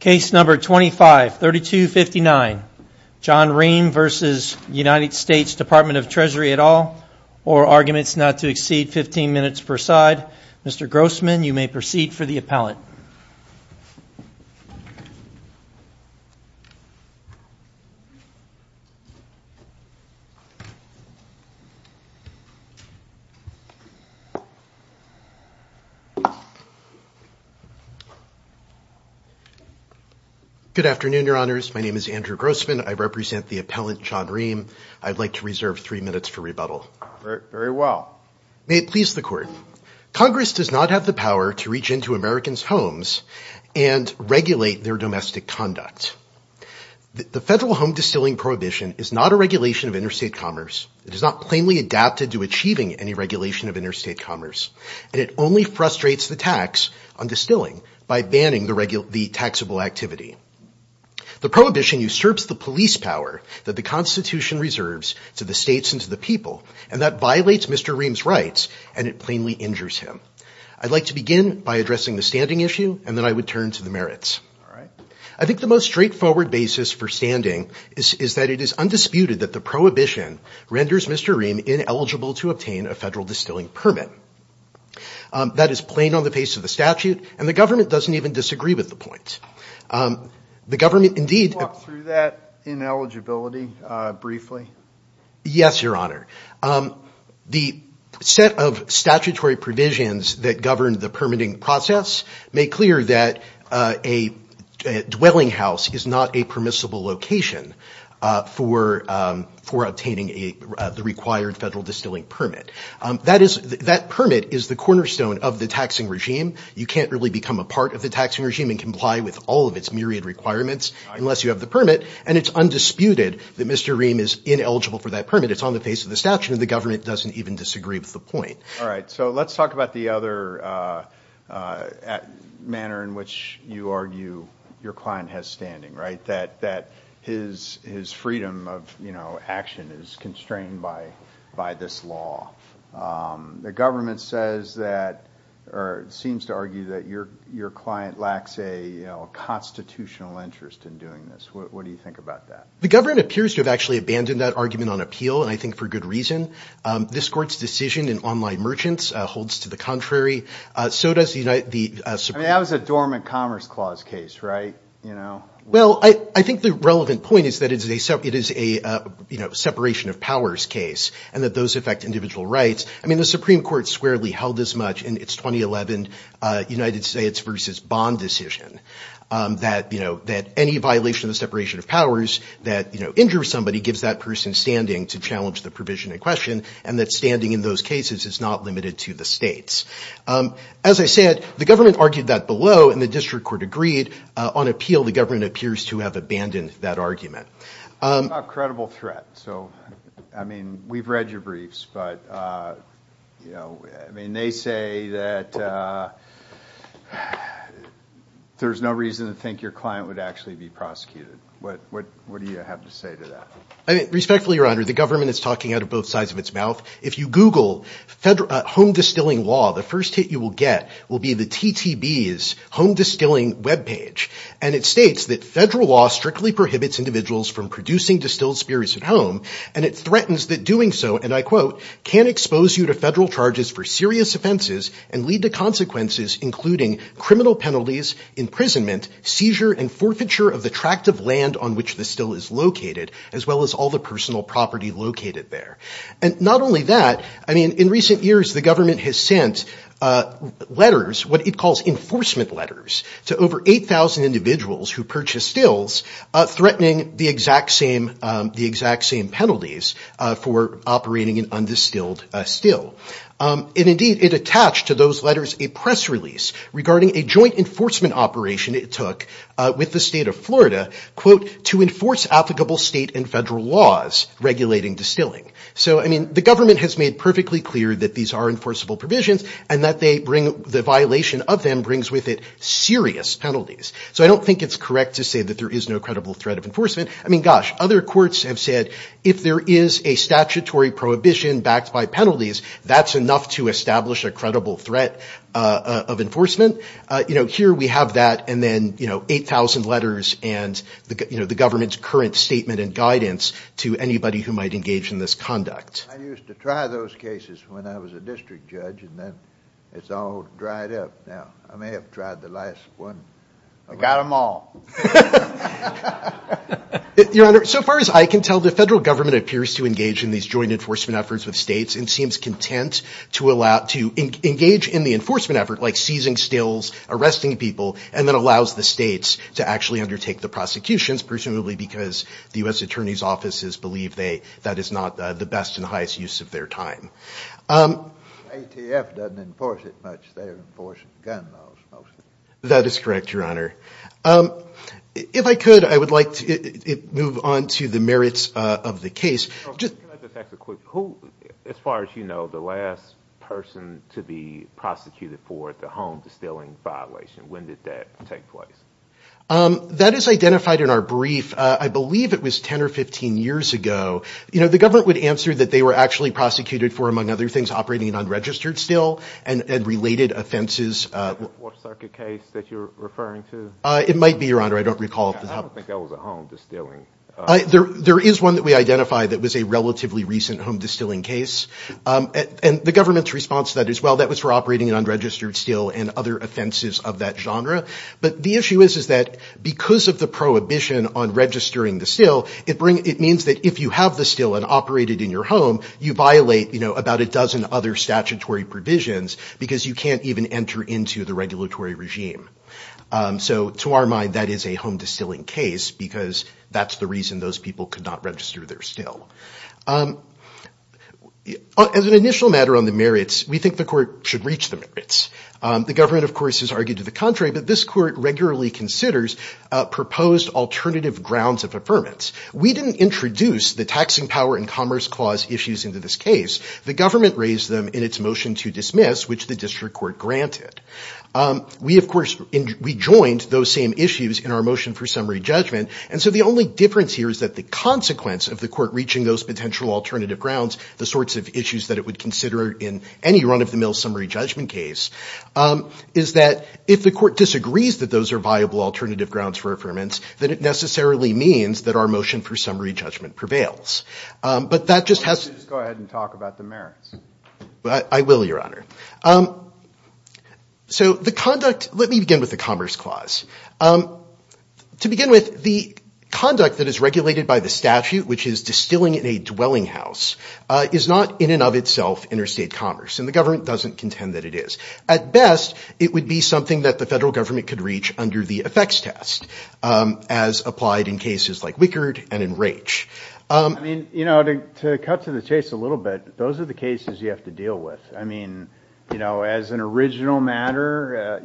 Case No. 25-3259, John Ream v. US Dept of the Treasury et al., or Arguments Not to Exceed 15 Minutes Per Side. Mr. Grossman, you may proceed for the appellate. Good afternoon, Your Honors. My name is Andrew Grossman. I represent the appellant, John Ream. I'd like to reserve three minutes for rebuttal. Very well. May it please the Court. Congress does not have the power to reach into Americans' homes and regulate their domestic conduct. The Federal Home Distilling Prohibition is not a regulation of interstate commerce. It is not plainly adapted to achieving any regulation of interstate commerce. And it only frustrates the tax on distilling by banning the taxable activity. The prohibition usurps the police power that the Constitution reserves to the states and to the people, and that violates Mr. Ream's rights, and it plainly injures him. I'd like to begin by addressing the standing issue, and then I would turn to the merits. I think the most straightforward basis for standing is that it is undisputed that the prohibition renders Mr. Ream ineligible to obtain a federal distilling permit. That is plain on the face of the statute, and the government doesn't even disagree with the point. The government, indeed- Can you walk through that ineligibility briefly? Yes, Your Honor. The set of statutory provisions that govern the permitting process make clear that a dwelling house is not a permissible location for obtaining the required federal distilling permit. That permit is the cornerstone of the taxing regime. You can't really become a part of the taxing regime and comply with all of its myriad requirements unless you have the permit, and it's undisputed that Mr. Ream is ineligible for that permit. It's on the face of the statute, and the government doesn't even disagree with the point. All right. So let's talk about the other manner in which you argue your client has standing, right, that his freedom of action is constrained by this law. The government seems to argue that your client lacks a constitutional interest in doing this. What do you think about that? The government appears to have actually abandoned that argument on appeal, and I think for good reason. This Court's decision in online merchants holds to the contrary. I mean, that was a dormant Commerce Clause case, right? Well, I think the relevant point is that it is a separation of powers case and that those affect individual rights. I mean, the Supreme Court squarely held as much in its 2011 United States versus Bond decision that, you know, that any violation of the separation of powers that, you know, injures somebody gives that person standing to challenge the provision in question, and that standing in those cases is not limited to the states. As I said, the government argued that below, and the district court agreed on appeal. The government appears to have abandoned that argument. It's a credible threat, so, I mean, we've read your briefs, but, you know, I mean, they say that there's no reason to think your client would actually be prosecuted. What do you have to say to that? I mean, respectfully, Your Honor, the government is talking out of both sides of its mouth. If you Google home distilling law, the first hit you will get will be the TTB's home distilling webpage, and it states that federal law strictly prohibits individuals from producing distilled spirits at home, and it threatens that doing so, and I quote, can expose you to federal charges for serious offenses and lead to consequences including criminal penalties, imprisonment, seizure, and forfeiture of the tract of land on which the still is located, as well as all the personal property located there. And not only that, I mean, in recent years, the government has sent letters, what it calls enforcement letters, to over 8,000 individuals who purchase stills, threatening the exact same penalties for operating an undistilled still. And indeed, it attached to those letters a press release regarding a joint enforcement operation it took with the state of Florida, quote, to enforce applicable state and federal laws regulating distilling. So, I mean, the government has made perfectly clear that these are enforceable provisions and that the violation of them brings with it serious penalties. So I don't think it's correct to say that there is no credible threat of enforcement. I mean, gosh, other courts have said if there is a statutory prohibition backed by penalties, that's enough to establish a credible threat of enforcement. You know, here we have that and then, you know, 8,000 letters and, you know, the government's current statement and guidance to anybody who might engage in this conduct. I used to try those cases when I was a district judge, and then it's all dried up now. I may have tried the last one. I got them all. Your Honor, so far as I can tell, the federal government appears to engage in these joint enforcement efforts with states and seems content to engage in the enforcement effort, like seizing stills, arresting people, and then allows the states to actually undertake the prosecutions, presumably because the U.S. Attorney's offices believe that is not the best and highest use of their time. ATF doesn't enforce it much. They enforce gun laws mostly. That is correct, Your Honor. If I could, I would like to move on to the merits of the case. Can I just ask a quick question? As far as you know, the last person to be prosecuted for the home distilling violation, when did that take place? That is identified in our brief. I believe it was 10 or 15 years ago. You know, the government would answer that they were actually prosecuted for, among other things, operating an unregistered still and related offenses. Is that the Fourth Circuit case that you're referring to? It might be, Your Honor. I don't recall. I don't think that was a home distilling. There is one that we identified that was a relatively recent home distilling case, and the government's response to that is, well, that was for operating an unregistered still and other offenses of that genre. But the issue is that because of the prohibition on registering the still, it means that if you have the still and operate it in your home, you violate about a dozen other statutory provisions because you can't even enter into the regulatory regime. So to our mind, that is a home distilling case because that's the reason those people could not register their still. As an initial matter on the merits, we think the court should reach the merits. The government, of course, has argued to the contrary, but this court regularly considers proposed alternative grounds of affirmance. We didn't introduce the taxing power and commerce clause issues into this case. The government raised them in its motion to dismiss, which the district court granted. We, of course, rejoined those same issues in our motion for summary judgment, and so the only difference here is that the consequence of the court reaching those potential alternative grounds, the sorts of issues that it would consider in any run-of-the-mill summary judgment case, is that if the court disagrees that those are viable alternative grounds for affirmance, then it necessarily means that our motion for summary judgment prevails. But that just has... I will, Your Honor. So the conduct... Let me begin with the commerce clause. To begin with, the conduct that is regulated by the statute, which is distilling in a dwelling house, is not in and of itself interstate commerce, and the government doesn't contend that it is. At best, it would be something that the federal government could reach under the effects test, as applied in cases like Wickard and in Raich. I mean, you know, to cut to the chase a little bit, those are the cases you have to deal with. I mean, you know, as an original matter,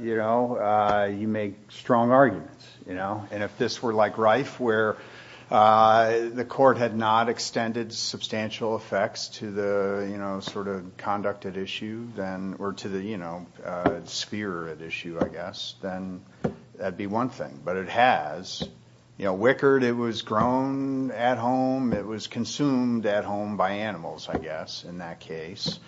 you make strong arguments. And if this were like Raich, where the court had not extended substantial effects to the sort of conduct at issue, or to the sphere at issue, I guess, then that would be one thing. But it has. You know, Wickard, it was grown at home. It was consumed at home by animals, I guess, in that case.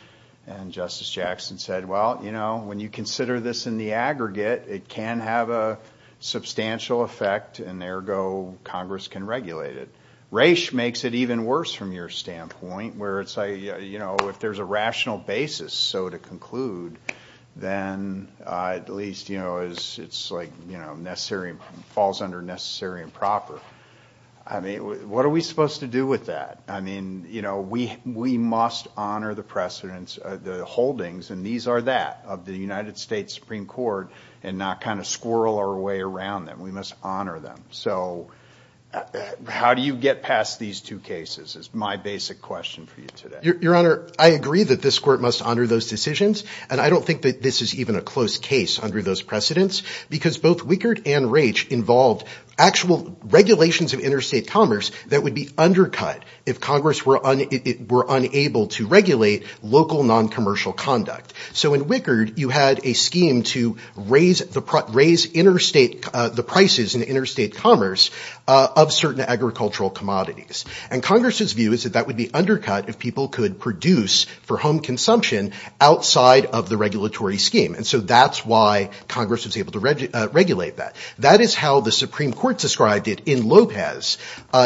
And Justice Jackson said, well, you know, when you consider this in the aggregate, it can have a substantial effect, and there go Congress can regulate it. Raich makes it even worse from your standpoint, where it's like, you know, if there's a rational basis so to conclude, then at least, you know, it's like, you know, it falls under necessary and proper. I mean, what are we supposed to do with that? I mean, you know, we must honor the precedents, the holdings, and these are that, of the United States Supreme Court, and not kind of squirrel our way around them. We must honor them. So how do you get past these two cases, is my basic question for you today. Your Honor, I agree that this court must honor those decisions, and I don't think that this is even a close case under those precedents, because both Wickard and Raich involved actual regulations of interstate commerce that would be undercut if Congress were unable to regulate local non-commercial conduct. So in Wickard, you had a scheme to raise the prices in interstate commerce of certain agricultural commodities. And Congress's view is that that would be undercut if people could produce for home consumption outside of the regulatory scheme. And so that's why Congress was able to regulate that. That is how the Supreme Court described it in Lopez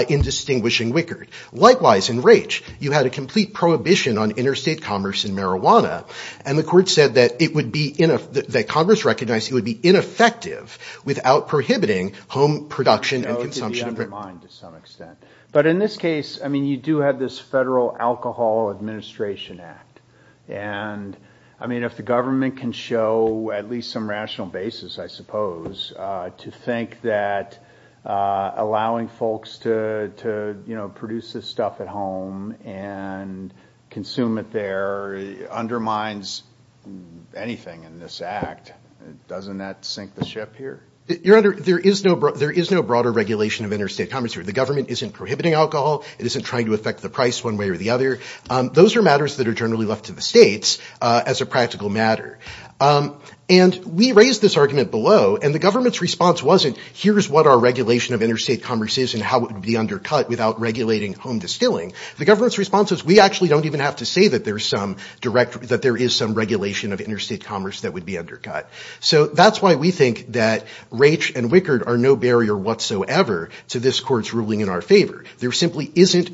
in distinguishing Wickard. Likewise, in Raich, you had a complete prohibition on interstate commerce in marijuana, and the court said that it would be, that Congress recognized it would be ineffective without prohibiting home production and consumption. But in this case, I mean, you do have this federal alcohol administration act. And, I mean, if the government can show at least some rational basis, I suppose, to think that allowing folks to produce this stuff at home and consume it there undermines anything in this act, doesn't that sink the ship here? Your Honor, there is no broader regulation of interstate commerce here. The government isn't prohibiting alcohol. It isn't trying to affect the price one way or the other. Those are matters that are generally left to the states as a practical matter. And we raised this argument below, and the government's response wasn't, here's what our regulation of interstate commerce is and how it would be undercut without regulating home distilling. The government's response is, we actually don't even have to say that there is some regulation of interstate commerce that would be undercut. So that's why we think that Raich and Wickard are no barrier whatsoever to this Court's ruling in our favor. The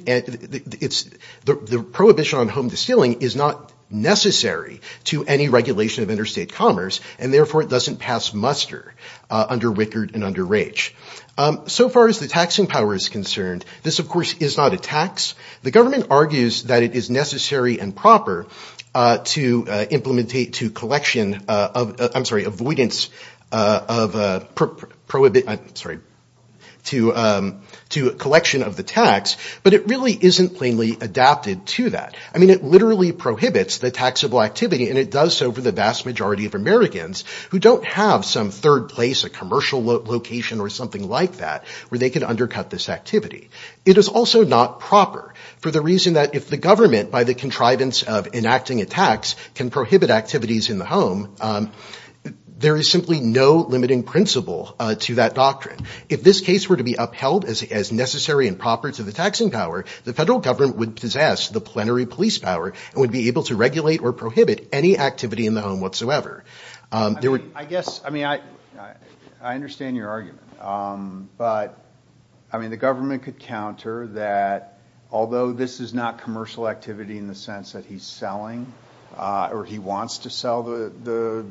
prohibition on home distilling is not necessary to any regulation of interstate commerce and, therefore, it doesn't pass muster under Wickard and under Raich. So far as the taxing power is concerned, this, of course, is not a tax. The government argues that it is necessary and proper to avoidance to collection of the tax, but it really isn't plainly adapted to that. I mean, it literally prohibits the taxable activity, and it does so for the vast majority of Americans who don't have some third place, a commercial location, or something like that where they can undercut this activity. It is also not proper for the reason that if the government, by the contrivance of enacting a tax, can prohibit activities in the home, there is simply no limiting principle to that doctrine. If this case were to be upheld as necessary and proper to the taxing power, the federal government would possess the plenary police power and would be able to regulate or prohibit any activity in the home whatsoever. I mean, I understand your argument, but the government could counter that although this is not commercial activity in the sense that he's selling, or he wants to sell the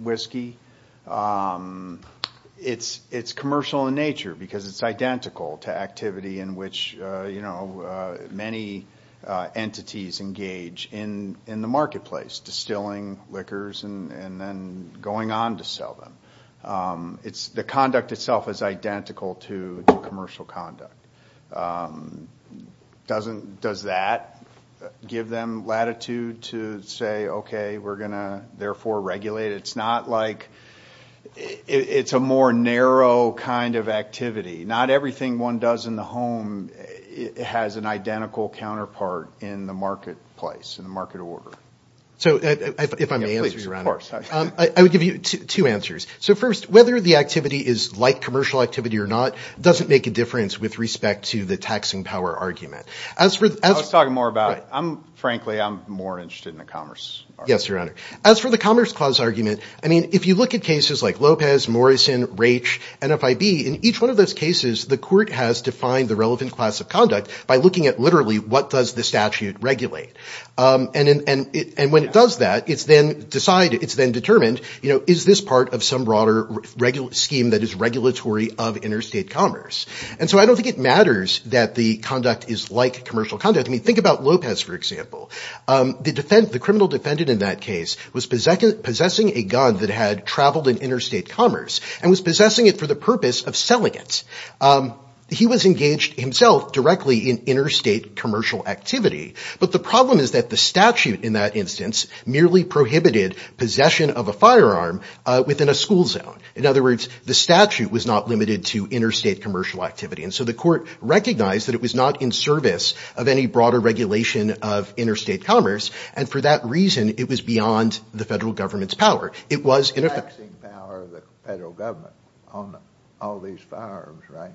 whiskey, it's commercial in nature because it's identical to activity in which many entities engage in the marketplace, distilling liquors and then going on to sell them. The conduct itself is identical to commercial conduct. Does that give them latitude to say, okay, we're going to therefore regulate it? It's not like... It's a more narrow kind of activity. Not everything one does in the home has an identical counterpart in the marketplace, in the market order. If I may answer, Your Honor. I would give you two answers. First, whether the activity is like commercial activity or not doesn't make a difference with respect to the taxing power argument. I was talking more about... Frankly, I'm more interested in the commerce argument. Yes, Your Honor. As for the commerce clause argument, if you look at cases like Lopez, Morrison, Raich, NFIB, in each one of those cases, the court has defined the relevant class of conduct by looking at literally what does the statute regulate. When it does that, it's then determined, is this part of some broader scheme that is regulatory of interstate commerce? I don't think it matters that the conduct is like commercial conduct. Think about Lopez, for example. The criminal defendant in that case was possessing a gun that had traveled in interstate commerce and was possessing it for the purpose of selling it. He was engaged himself directly in interstate commercial activity. But the problem is that the statute in that instance merely prohibited possession of a firearm within a school zone. In other words, the statute was not limited to interstate commercial activity. So the court recognized that it was not in service of any broader regulation of interstate commerce and for that reason it was beyond the federal government's power. Taxing power of the federal government on all these firearms, right?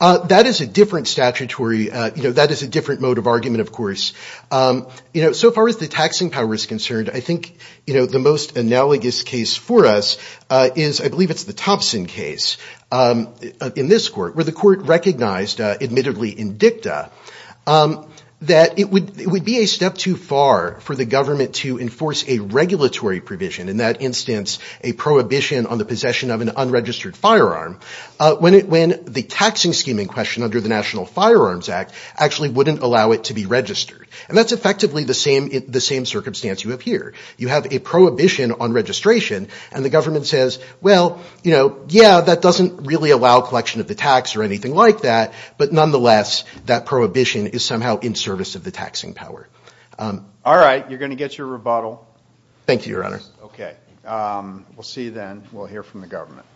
That is a different statutory, that is a different mode of argument, of course. So far as the taxing power is concerned, I think the most analogous case for us is, I believe it's the Thompson case in this court, where the court recognized, admittedly in dicta, that it would be a step too far for the government to enforce a regulatory provision, in that instance a prohibition on the possession of an unregistered firearm, when the taxing scheme in question under the National Firearms Act actually wouldn't allow it to be registered. And that's effectively the same circumstance you have here. You have a prohibition on registration and the government says, well, yeah, that doesn't really allow collection of the tax or anything like that, but nonetheless that prohibition is somehow in service of the taxing power. Alright, you're going to get your rebuttal. Thank you, Your Honor. We'll see you then, we'll hear from the government.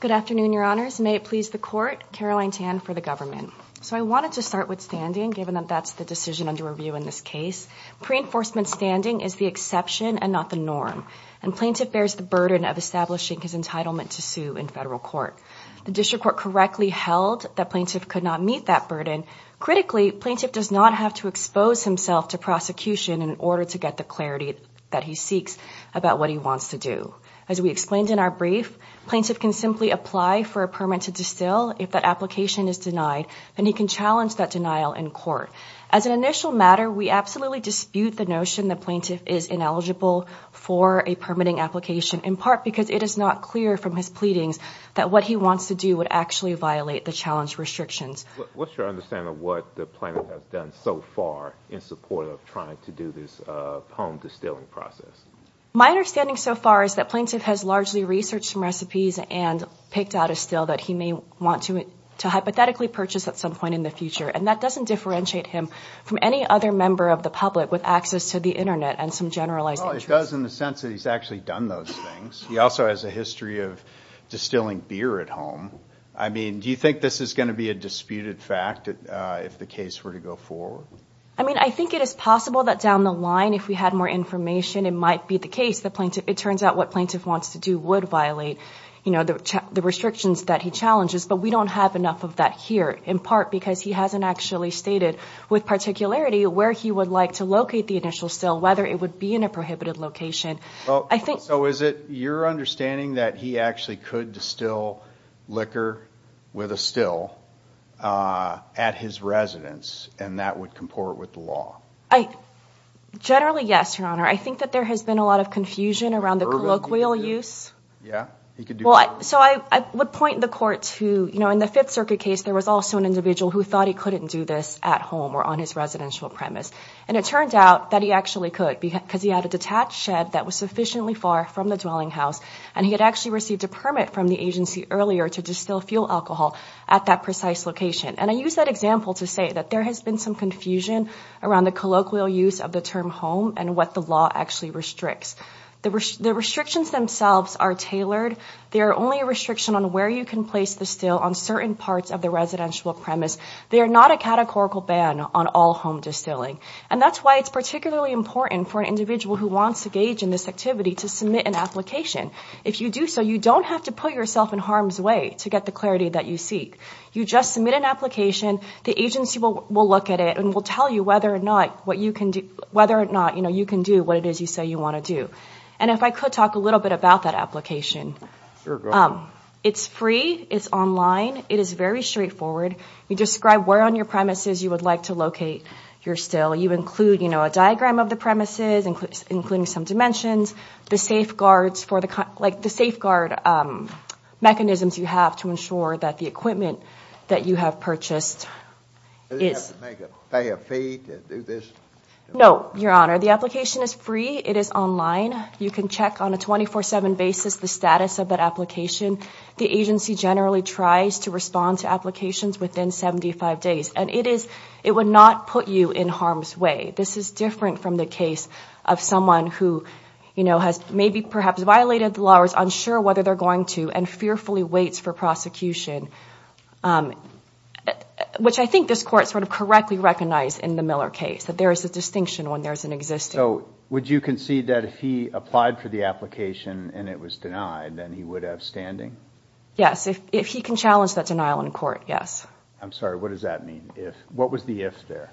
Good afternoon, Your Honors. May it please the court. Caroline Tan for the government. So I wanted to start with standing, given that that's the decision under review in this case. Pre-enforcement standing is the exception and not the norm, and plaintiff bears the burden of establishing his entitlement to sue in federal court. The district court correctly held that plaintiff could not meet that burden. Critically, plaintiff does not have to expose himself to prosecution in order to get the clarity that he seeks about what he wants to do. As we explained in our brief, plaintiff can simply apply for a permit to distill if that application is denied and he can challenge that denial in court. As an initial matter, we absolutely dispute the notion that plaintiff is ineligible for a permitting application, in part because it is not clear from his pleadings that what he wants to do would actually violate the challenge restrictions. What's your understanding of what the plaintiff has done so far in support of trying to do this home distilling process? My understanding so far is that plaintiff has largely researched some recipes and picked out a still that he may want to hypothetically purchase at some point in the future, and that doesn't differentiate him from any other member of the public with access to the Internet and some generalized interest. Well, it does in the sense that he's actually done those things. He also has a history of distilling beer at home. I mean, do you think this is going to be a disputed fact if the case were to go forward? I mean, I think it is possible that down the line if we had more information it might be the case that it turns out what plaintiff wants to do would violate the restrictions that he challenges, but we don't have enough of that here, in part because he hasn't actually stated with particularity where he would like to locate the initial still, whether it would be in a prohibited location. So is it your understanding that he actually could distill liquor with a still at his residence, and that would comport with the law? Generally, yes, Your Honor. I think that there has been a lot of confusion around the colloquial use. So I would point the court to, you know, in the Fifth Circuit case there was also an individual who thought he couldn't do this at home or on his residential premise, and it turned out that he actually could because he had a detached shed that was sufficiently far from the dwelling house, and he had actually received a permit from the agency earlier to distill fuel alcohol at that precise location. And I use that example to say that there has been some confusion around the colloquial use of the term home and what the law actually restricts. The restrictions themselves are tailored. They are only a restriction on where you can place the still on certain parts of the residential premise. They are not a categorical ban on all home distilling, and that's why it's particularly important for an individual who wants to engage in this activity to submit an application. If you do so, you don't have to put yourself in harm's way to get the clarity that you seek. You just submit an application. The agency will look at it and will tell you whether or not you can do what it is you say you want to do. And if I could talk a little bit about that application. It's free. It's online. It is very straightforward. You describe where on your premises you would like to locate your still. You include a diagram of the premises, including some dimensions, the safeguard mechanisms you have to ensure that the equipment that you have purchased is... Does it have to make a fair fee to do this? No, Your Honor. The application is free. It is online. You can check on a 24-7 basis the status of that application. The agency generally tries to respond to applications within 75 days. And it would not put you in harm's way. This is different from the case of someone who has maybe perhaps violated the law or is unsure whether they're going to and fearfully waits for prosecution. Which I think this Court sort of correctly recognized in the Miller case. That there is a distinction when there is an existing. So would you concede that if he applied for the application and it was denied, then he would have standing? Yes. If he can challenge that denial in court, yes. I'm sorry, what does that mean? What was the if there?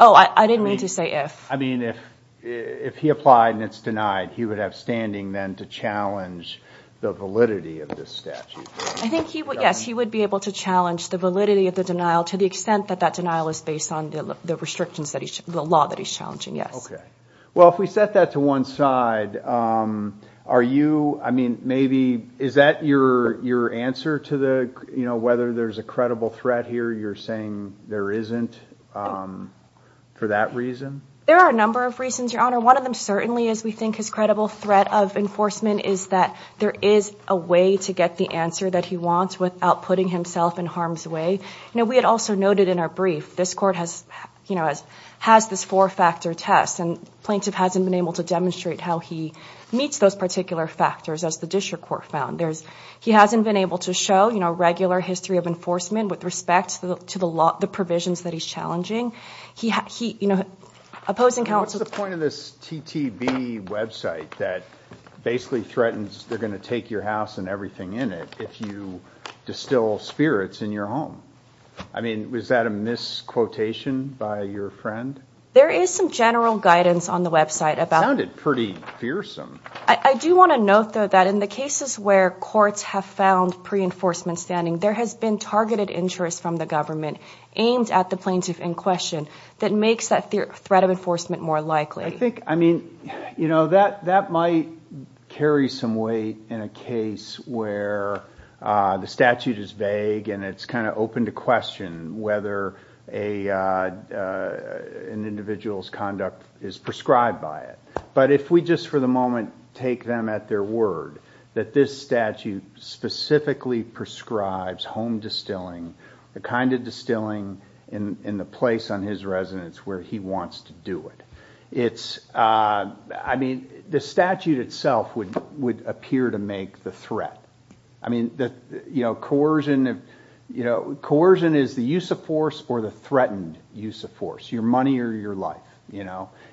Oh, I didn't mean to say if. I mean, if he applied and it's denied, he would have standing then to challenge the validity of this statute. I think he would, yes, he would be able to challenge the validity of the denial to the extent that that denial is based on the restrictions that he's... the law that he's challenging, yes. Okay. Well, if we set that to one side, are you... I mean, maybe... is that your answer to the... the threat here? You're saying there isn't for that reason? There are a number of reasons, Your Honor. One of them certainly is we think his credible threat of enforcement is that there is a way to get the answer that he wants without putting himself in harm's way. You know, we had also noted in our brief, this Court has, you know, has this four-factor test and the plaintiff hasn't been able to demonstrate how he meets those particular factors as the district court found. He hasn't been able to show, you know, regular history of enforcement with respect to the provisions that he's challenging. He... you know, opposing counsel... What's the point of this TTB website that basically threatens they're going to take your house and everything in it if you distill spirits in your home? I mean, was that a misquotation by your friend? There is some general guidance on the website about... It sounded pretty fearsome. I do want to note, though, that in the cases where courts have found pre-enforcement standing, there has been targeted interest from the government aimed at the plaintiff in question that makes that threat of enforcement more likely. I think, I mean, you know, that might carry some weight in a case where the statute is vague and it's kind of open to question whether an individual's conduct is prescribed by it. But if we just for the moment take them at their word that this statute specifically prescribes home distilling, the kind of distilling in the place on his residence where he wants to do it, it's... I mean, the statute itself would appear to make the threat. I mean, you know, coercion... You know, coercion is the use of force or the threatened use of force, your money or your life.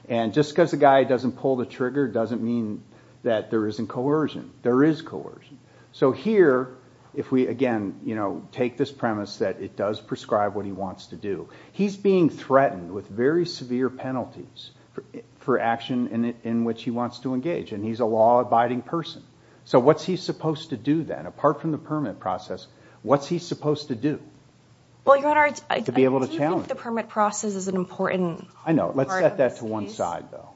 And just because a guy doesn't pull the trigger doesn't mean that there isn't coercion. There is coercion. So here, if we again, you know, take this premise that it does prescribe what he wants to do. He's being threatened with very severe penalties for action in which he wants to engage and he's a law-abiding person. So what's he supposed to do then, apart from the permit process? What's he supposed to do to be able to challenge it? I think the permit process is an important part of this case. I know. Let's set that to one side, though.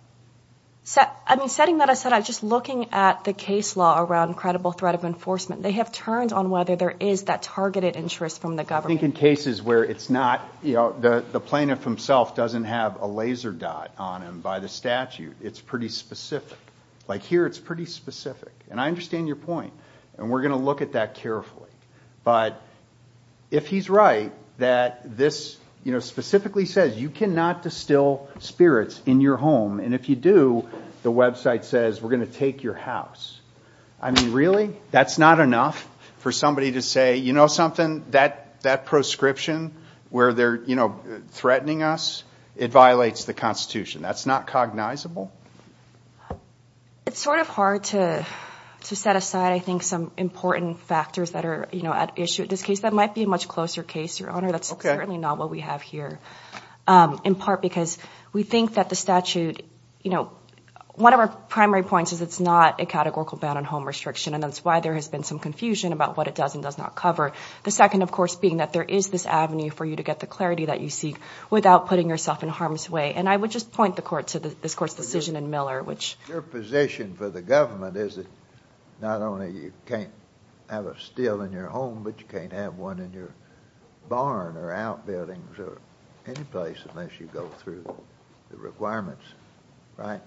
I mean, setting that aside, just looking at the case law around credible threat of enforcement, they have turned on whether there is that targeted interest from the government. I think in cases where it's not, you know, the plaintiff himself doesn't have a laser dot on him by the statute, it's pretty specific. Like here, it's pretty specific. And I understand your point. And we're going to look at that carefully. But if he's right that this, you know, specifically says you cannot distill spirits in your home and if you do, the website says we're going to take your house. I mean, really? That's not enough for somebody to say, you know something, that prescription where they're, you know, threatening us, it violates the Constitution. That's not cognizable? It's sort of hard to set aside, I think, some important factors that are, you know, at issue in this case. That might be a much closer case, Your Honor. That's certainly not what we have here. In part because we think that the statute, you know, one of our primary points is it's not a categorical ban on home restriction. And that's why there has been some confusion about what it does and does not cover. The second, of course, being that there is this avenue for you to get the clarity that you seek without putting yourself in harm's way. And I would just point the Court to this Court's decision in Miller. Your position for the government is that not only you can't have a still in your home, but you can't have one in your barn or outbuildings or any place unless you go through the requirements, right?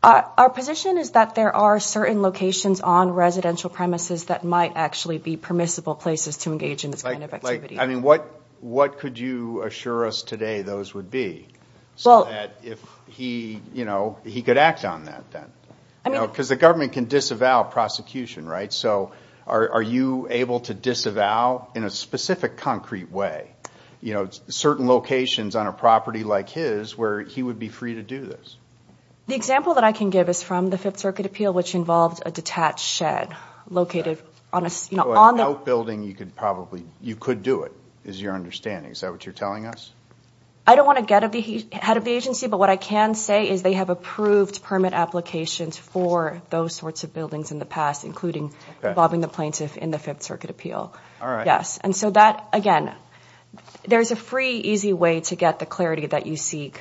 Our position is that there are certain locations on residential premises that might actually be permissible places to engage in this kind of activity. What could you assure us today those would be? So that if he, you know, he could act on that then. Because the government can disavow prosecution, right? So are you able to disavow in a specific concrete way, you know, certain locations on a property like his where he would be free to do this? The example that I can give is from the Fifth Circuit appeal which involved a detached shed located on a... So an outbuilding you could probably, you could do it is your understanding. Is that what you're telling us? I don't want to get ahead of the agency, but what I can say is they have approved permit applications for those sorts of buildings in the past, including involving the plaintiff in the Fifth Circuit appeal. And so that, again, there's a free, easy way to get the clarity that you seek.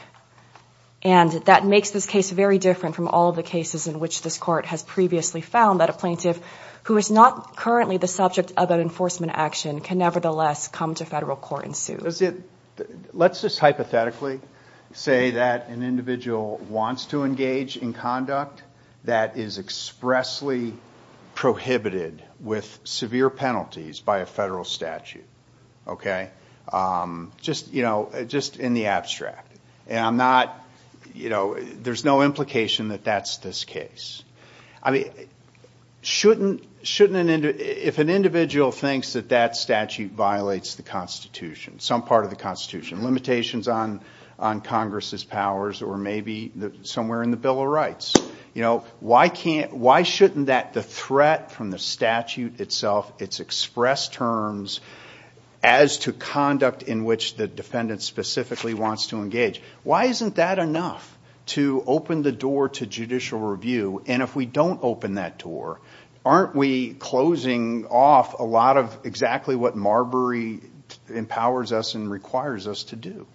And that makes this case very different from all of the cases in which this Court has previously found that a plaintiff who is not currently the subject of an enforcement action can nevertheless come to federal court and sue. Let's just hypothetically say that an individual wants to engage in conduct that is expressly prohibited with severe penalties by a federal statute. Okay? Just, you know, just in the abstract. And I'm not, you know, there's no implication that that's this case. I mean, shouldn't an individual... If an individual thinks that that statute violates the Constitution, some part of the Constitution, limitations on Congress's powers or maybe somewhere in the Bill of Rights, you know, why can't, why shouldn't that, the threat from the statute itself, its express terms as to conduct in which the defendant specifically wants to engage, why isn't that enough to open the door to judicial review? And if we don't open that door, aren't we closing off a lot of exactly what Marbury empowers us and requires us to do?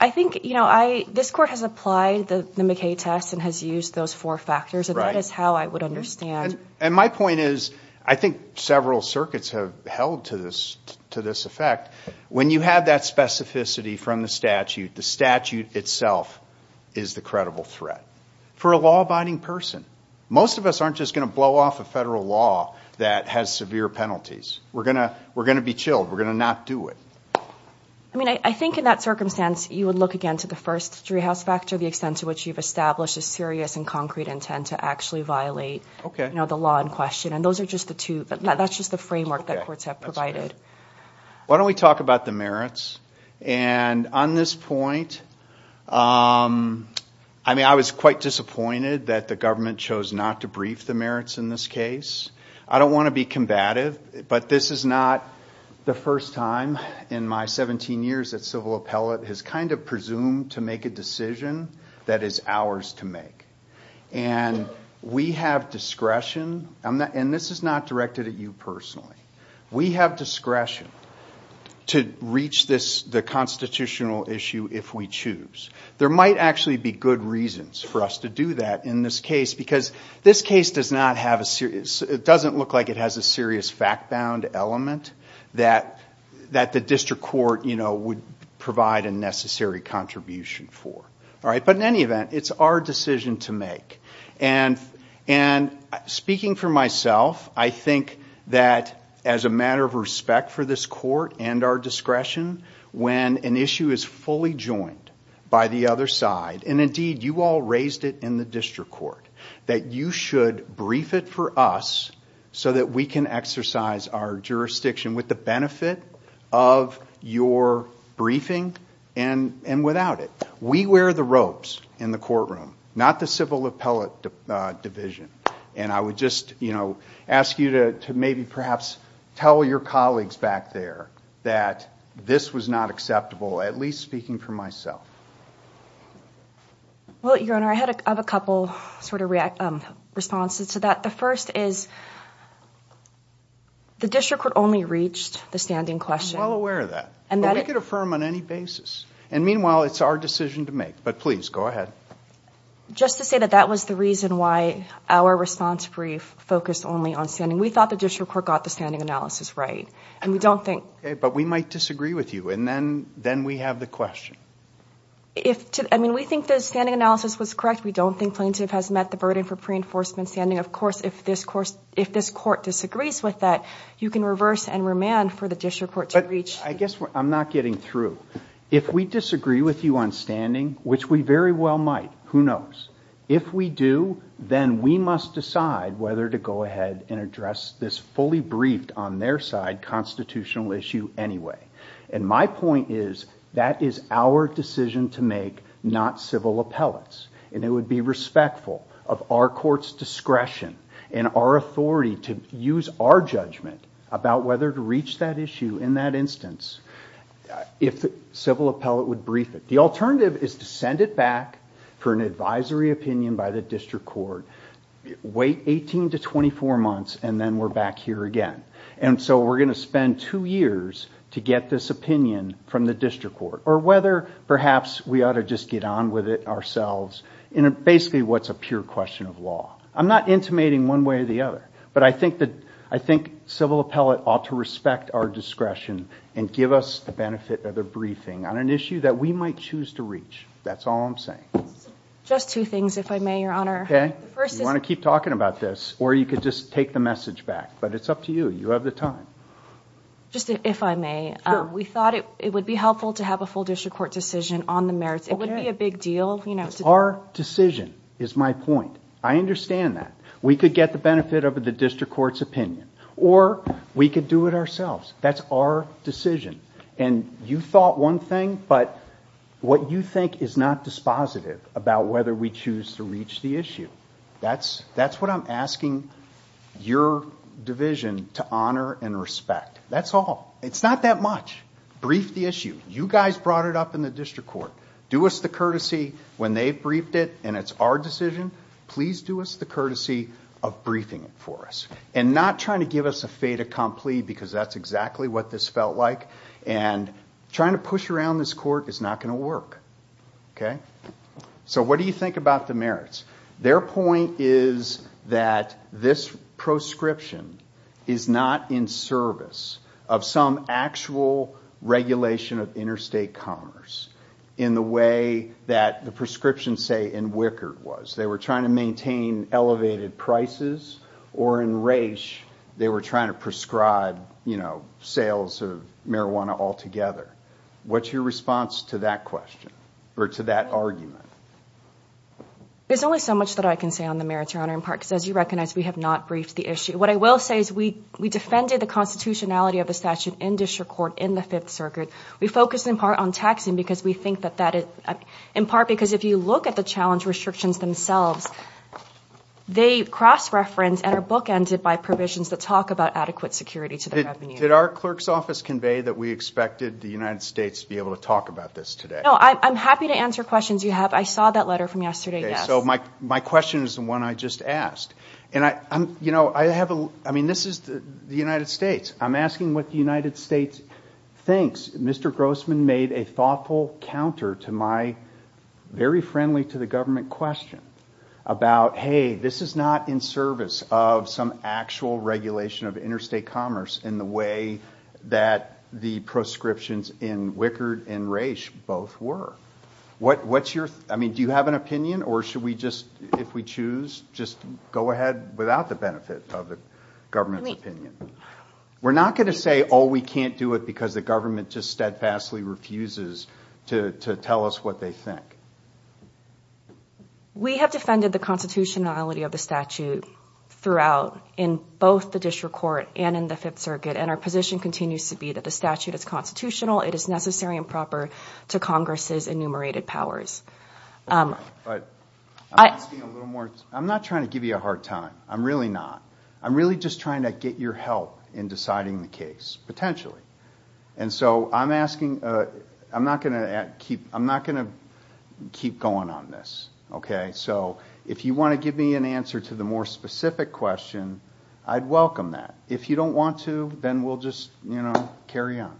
I think, you know, this Court has applied the McKay test and has used those four factors, and that is how I would understand... And my point is, I think several circuits have held to this effect. When you have that specificity from the statute, the statute itself is the credible threat. For a law-abiding person, most of us aren't just going to blow off a federal law that has severe penalties. We're going to be chilled, we're going to not do it. I mean, I think in that circumstance, you would look again to the first jury house factor, the extent to which you've established a serious and concrete intent to actually violate the law in question, and those are just the two, that's just the framework that courts have provided. Why don't we talk about the merits, and on this point, I mean, I was quite disappointed that the government chose not to brief the merits in this case. I don't want to be combative, but this is not the first time in my 17 years at civil appellate has kind of presumed to make a decision that is ours to make. And we have discretion, and this is not directed at you personally, we have discretion to reach the constitutional issue if we choose. There might actually be good reasons for us to do that in this case, because this case doesn't look like it has a serious fact-bound element that the district court would provide a necessary contribution for. But in any event, it's our decision to make. And speaking for myself, I think that as a matter of respect for this court and our discretion, when an issue is fully joined by the other side, and indeed, you all raised it in the district court, that you should brief it for us so that we can exercise our jurisdiction with the benefit of your briefing and without it. We wear the ropes in the courtroom, not the civil appellate division. And I would just ask you to maybe perhaps tell your colleagues back there that this was not acceptable, at least speaking for myself. Well, Your Honor, I have a couple responses to that. The first is, the district court only reached the standing question. I'm well aware of that. But we can affirm on any basis. And meanwhile, it's our decision to make. But please, go ahead. Just to say that that was the reason why our response brief focused only on standing. We thought the district court got the standing analysis right. But we might disagree with you. And then we have the question. I mean, we think the standing analysis was correct. We don't think plaintiff has met the burden for pre-enforcement standing. Of course, if this court disagrees with that, you can reverse and remand for the district court to reach. I guess I'm not getting through. If we disagree with you on standing, which we very well might, who knows, if we do, then we must decide whether to go ahead and address this fully briefed, on their side, constitutional issue anyway. And my point is, that is our decision to make, not civil appellate's. And it would be respectful of our court's discretion and our authority to use our judgment about whether to reach that issue in that instance, if the civil appellate would brief it. The alternative is to send it back for an advisory opinion by the district court, wait 18 to 24 months, and then we're back here again. And so we're going to spend two years to get this opinion from the district court, or whether perhaps we ought to just get on with it ourselves, in basically what's a pure question of law. I'm not intimating one way or the other. But I think civil appellate ought to respect our discretion and give us the benefit of their briefing on an issue that we might choose to reach. That's all I'm saying. Just two things, if I may, Your Honor. You want to keep talking about this, or you could just take the message back. But it's up to you. You have the time. Just if I may, we thought it would be helpful to have a full district court decision on the merits. It wouldn't be a big deal. Our decision is my point. I understand that. We could get the benefit of the district court's opinion, or we could do it ourselves. That's our decision. And you thought one thing, but what you think is not dispositive about whether we choose to reach the issue. That's what I'm asking your division to honor and respect. That's all. It's not that much. Brief the issue. You guys brought it up in the district court. Do us the courtesy when they've briefed it and it's our decision. Please do us the courtesy of briefing it for us. And not trying to give us a fait accompli because that's exactly what this felt like. Trying to push around this court is not going to work. So what do you think about the merits? Their point is that this proscription is not in service of some actual regulation of interstate commerce in the way that the proscription, say, in Wickard was. They were trying to maintain elevated prices, or in Raich, they were trying to prescribe sales of marijuana altogether. What's your response to that question or to that argument? There's only so much that I can say on the merits, Your Honor, in part because, as you recognize, we have not briefed the issue. What I will say is we defended the constitutionality of the statute in district court in the Fifth Circuit. We focused in part on taxing because we think that that is, in part because if you look at the challenge restrictions themselves, they cross-reference and are bookended by provisions that talk about adequate security to the revenue. Did our clerk's office convey that we expected the United States to be able to talk about this today? No, I'm happy to answer questions you have. I saw that letter from yesterday. My question is the one I just asked. This is the United States. I'm asking what the United States thinks. Mr. Grossman made a thoughtful counter to my very friendly to the government question about, hey, this is not in service of some actual regulation of interstate commerce in the way that the proscriptions in Wickard and Raich both were. Do you have an opinion, or should we just, if we choose, just go ahead without the benefit of the government's opinion? We're not going to say, oh, we can't do it because the government just steadfastly refuses to tell us what they think. We have defended the constitutionality of the statute throughout in both the district court and in the Fifth Circuit, and our position continues to be that the statute is constitutional. It is necessary and proper to Congress's enumerated powers. I'm not trying to give you a hard time. I'm really not. I'm really just trying to get your help in deciding the case, I'm not going to keep going on this. If you want to give me an answer to the more specific question, I'd welcome that. If you don't want to, then we'll just carry on.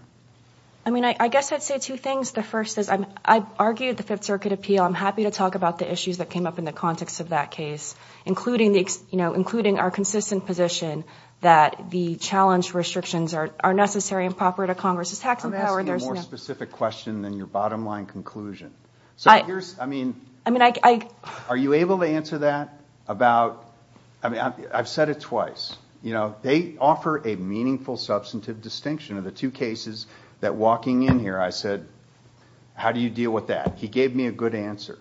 I guess I'd say two things. I argued the Fifth Circuit appeal. I'm happy to talk about the issues that came up in the context of that case, including our consistent position that the challenge restrictions are necessary and proper to Congress's tax and power. I'm asking a more specific question than your bottom line conclusion. Are you able to answer that? I've said it twice. They offer a meaningful substantive distinction of the two cases that walking in here I said, how do you deal with that? He gave me a good answer.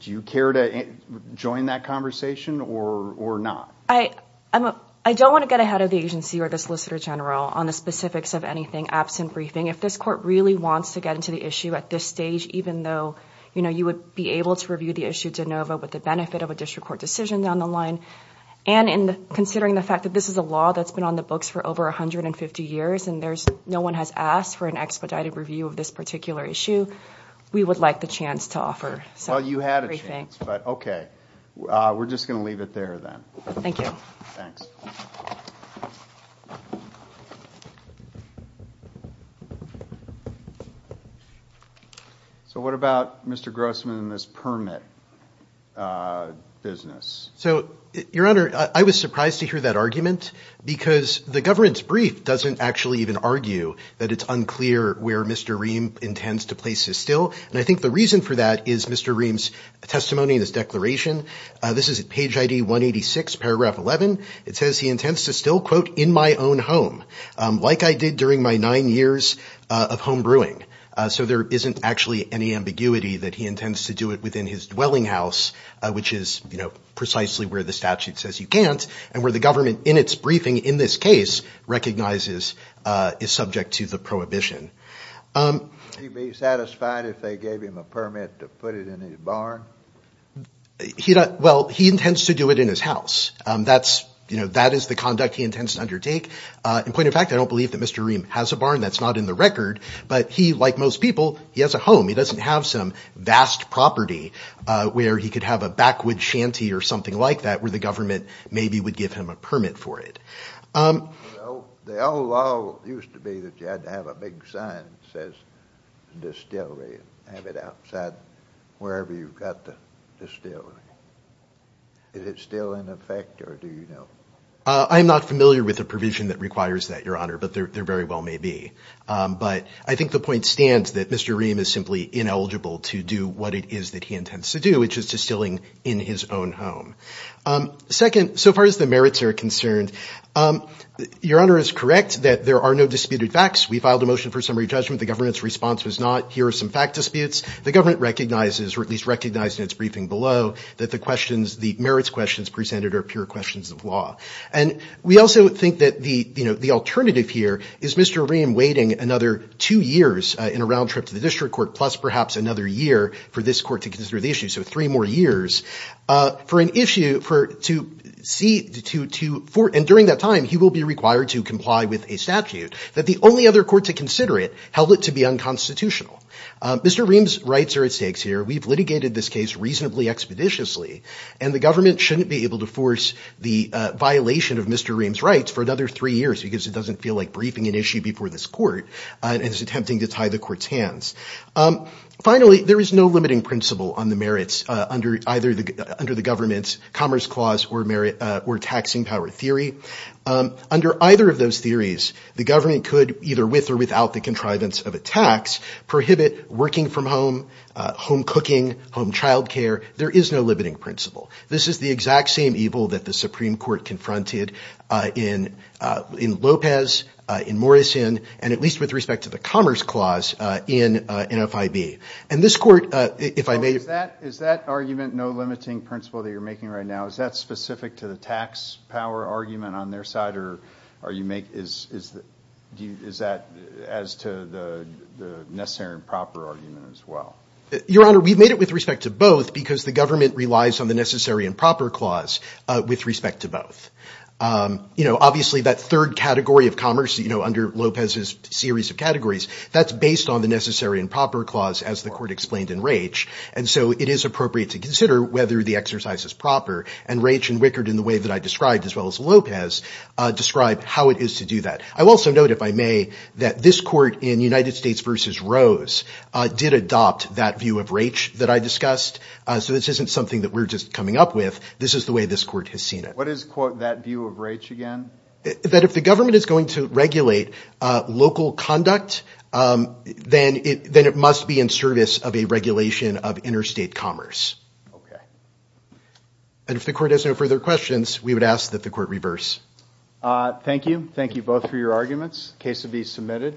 Do you care to join that conversation or not? I don't want to get ahead of the agency or the Solicitor General on the specifics of anything absent briefing. If this court really wants to get into the issue at this stage, even though you would be able to review the issue de novo with the benefit of a district court decision down the line, and considering the fact that this is a law that's been on the books for over 150 years and no one has asked for an expedited review of this particular issue, we would like the chance to offer. Well, you had a chance, but okay. We're just going to leave it there then. Thank you. So what about Mr. Grossman and this permit business? Your Honor, I was surprised to hear that argument because the governance brief doesn't actually even argue that it's unclear where Mr. Ream intends to place his still, and I think the reason for that is Mr. Ream's testimony in his declaration. This is at page ID 186, paragraph 11. It says he intends to still, quote, in my own home, like I did during my nine years of homebrewing. So there isn't actually any ambiguity that he intends to do it within his dwelling house, which is, you know, precisely where the statute says you can't, and where the government in its briefing in this case recognizes is subject to the prohibition. Would he be satisfied if they gave him a permit to put it in his barn? Well, he intends to do it in his house. That is the conduct he intends to undertake. In point of fact, I don't believe that Mr. Ream has a barn. That's not in the record, but he, like most people, has a home. He doesn't have some vast property where he could have a backwood shanty or something like that where the government maybe would give him a permit for it. The old law used to be that you had to have a big sign that says distillery and have it outside wherever you've got the distillery. Is it still in effect, or do you know? I'm not familiar with a provision that requires that, Your Honor, but there very well may be. But I think the point stands that Mr. Ream is simply ineligible to do what it is that he intends to do, which is distilling in his own home. Second, so far as the merits are concerned, Your Honor is correct that there are no disputed facts. We filed a motion for summary judgment. The government's response was not, here are some fact disputes. The government recognizes, or at least recognized in its briefing below, that the merits questions presented are pure questions of law. And we also think that the alternative here is Mr. Ream waiting another two years in a round trip to the district court plus perhaps another year for this court to consider the issue, so three more years for an issue to see, and during that time he will be required to comply with a statute that the only other court to consider it held it to be unconstitutional. Mr. Ream's rights are at stake here. We've litigated this case reasonably expeditiously, and the government shouldn't be able to force the violation of Mr. Ream's rights for another three years because it doesn't feel like briefing an issue before this court and is attempting to tie the court's hands. Finally, there is no limiting principle on the merits under the government's commerce clause or taxing power theory. Under either of those theories, the government could, either with or without the contrivance of a tax, prohibit working from home, home cooking, home childcare. There is no limiting principle. This is the exact same evil that the Supreme Court confronted in Lopez, in Morrison, and at least with respect to the commerce clause in NFIB. And this court, if I may... Is that argument, no limiting principle that you're making right now, is that specific to the tax power argument on their side or are you making... Is that as to the necessary and proper argument as well? Your Honor, we've made it with respect to both because the government relies on the necessary and proper clause with respect to both. Obviously, that third category of commerce, under Lopez's series of categories, that's based on the necessary and proper clause, as the court explained in Raich. And so it is appropriate to consider whether the exercise is proper. And Raich and Wickard, in the way that I described, as well as Lopez, describe how it is to do that. I will also note, if I may, that this court in United States v. Rose did adopt that view of Raich that I discussed. So this isn't something that we're just coming up with. This is the way this court has seen it. What is, quote, that view of Raich again? That if the government is going to regulate local conduct, then it must be in service of a regulation of interstate commerce. And if the court has no further questions, we would ask that the court reverse. Thank you. Thank you both for your arguments. The case will be submitted.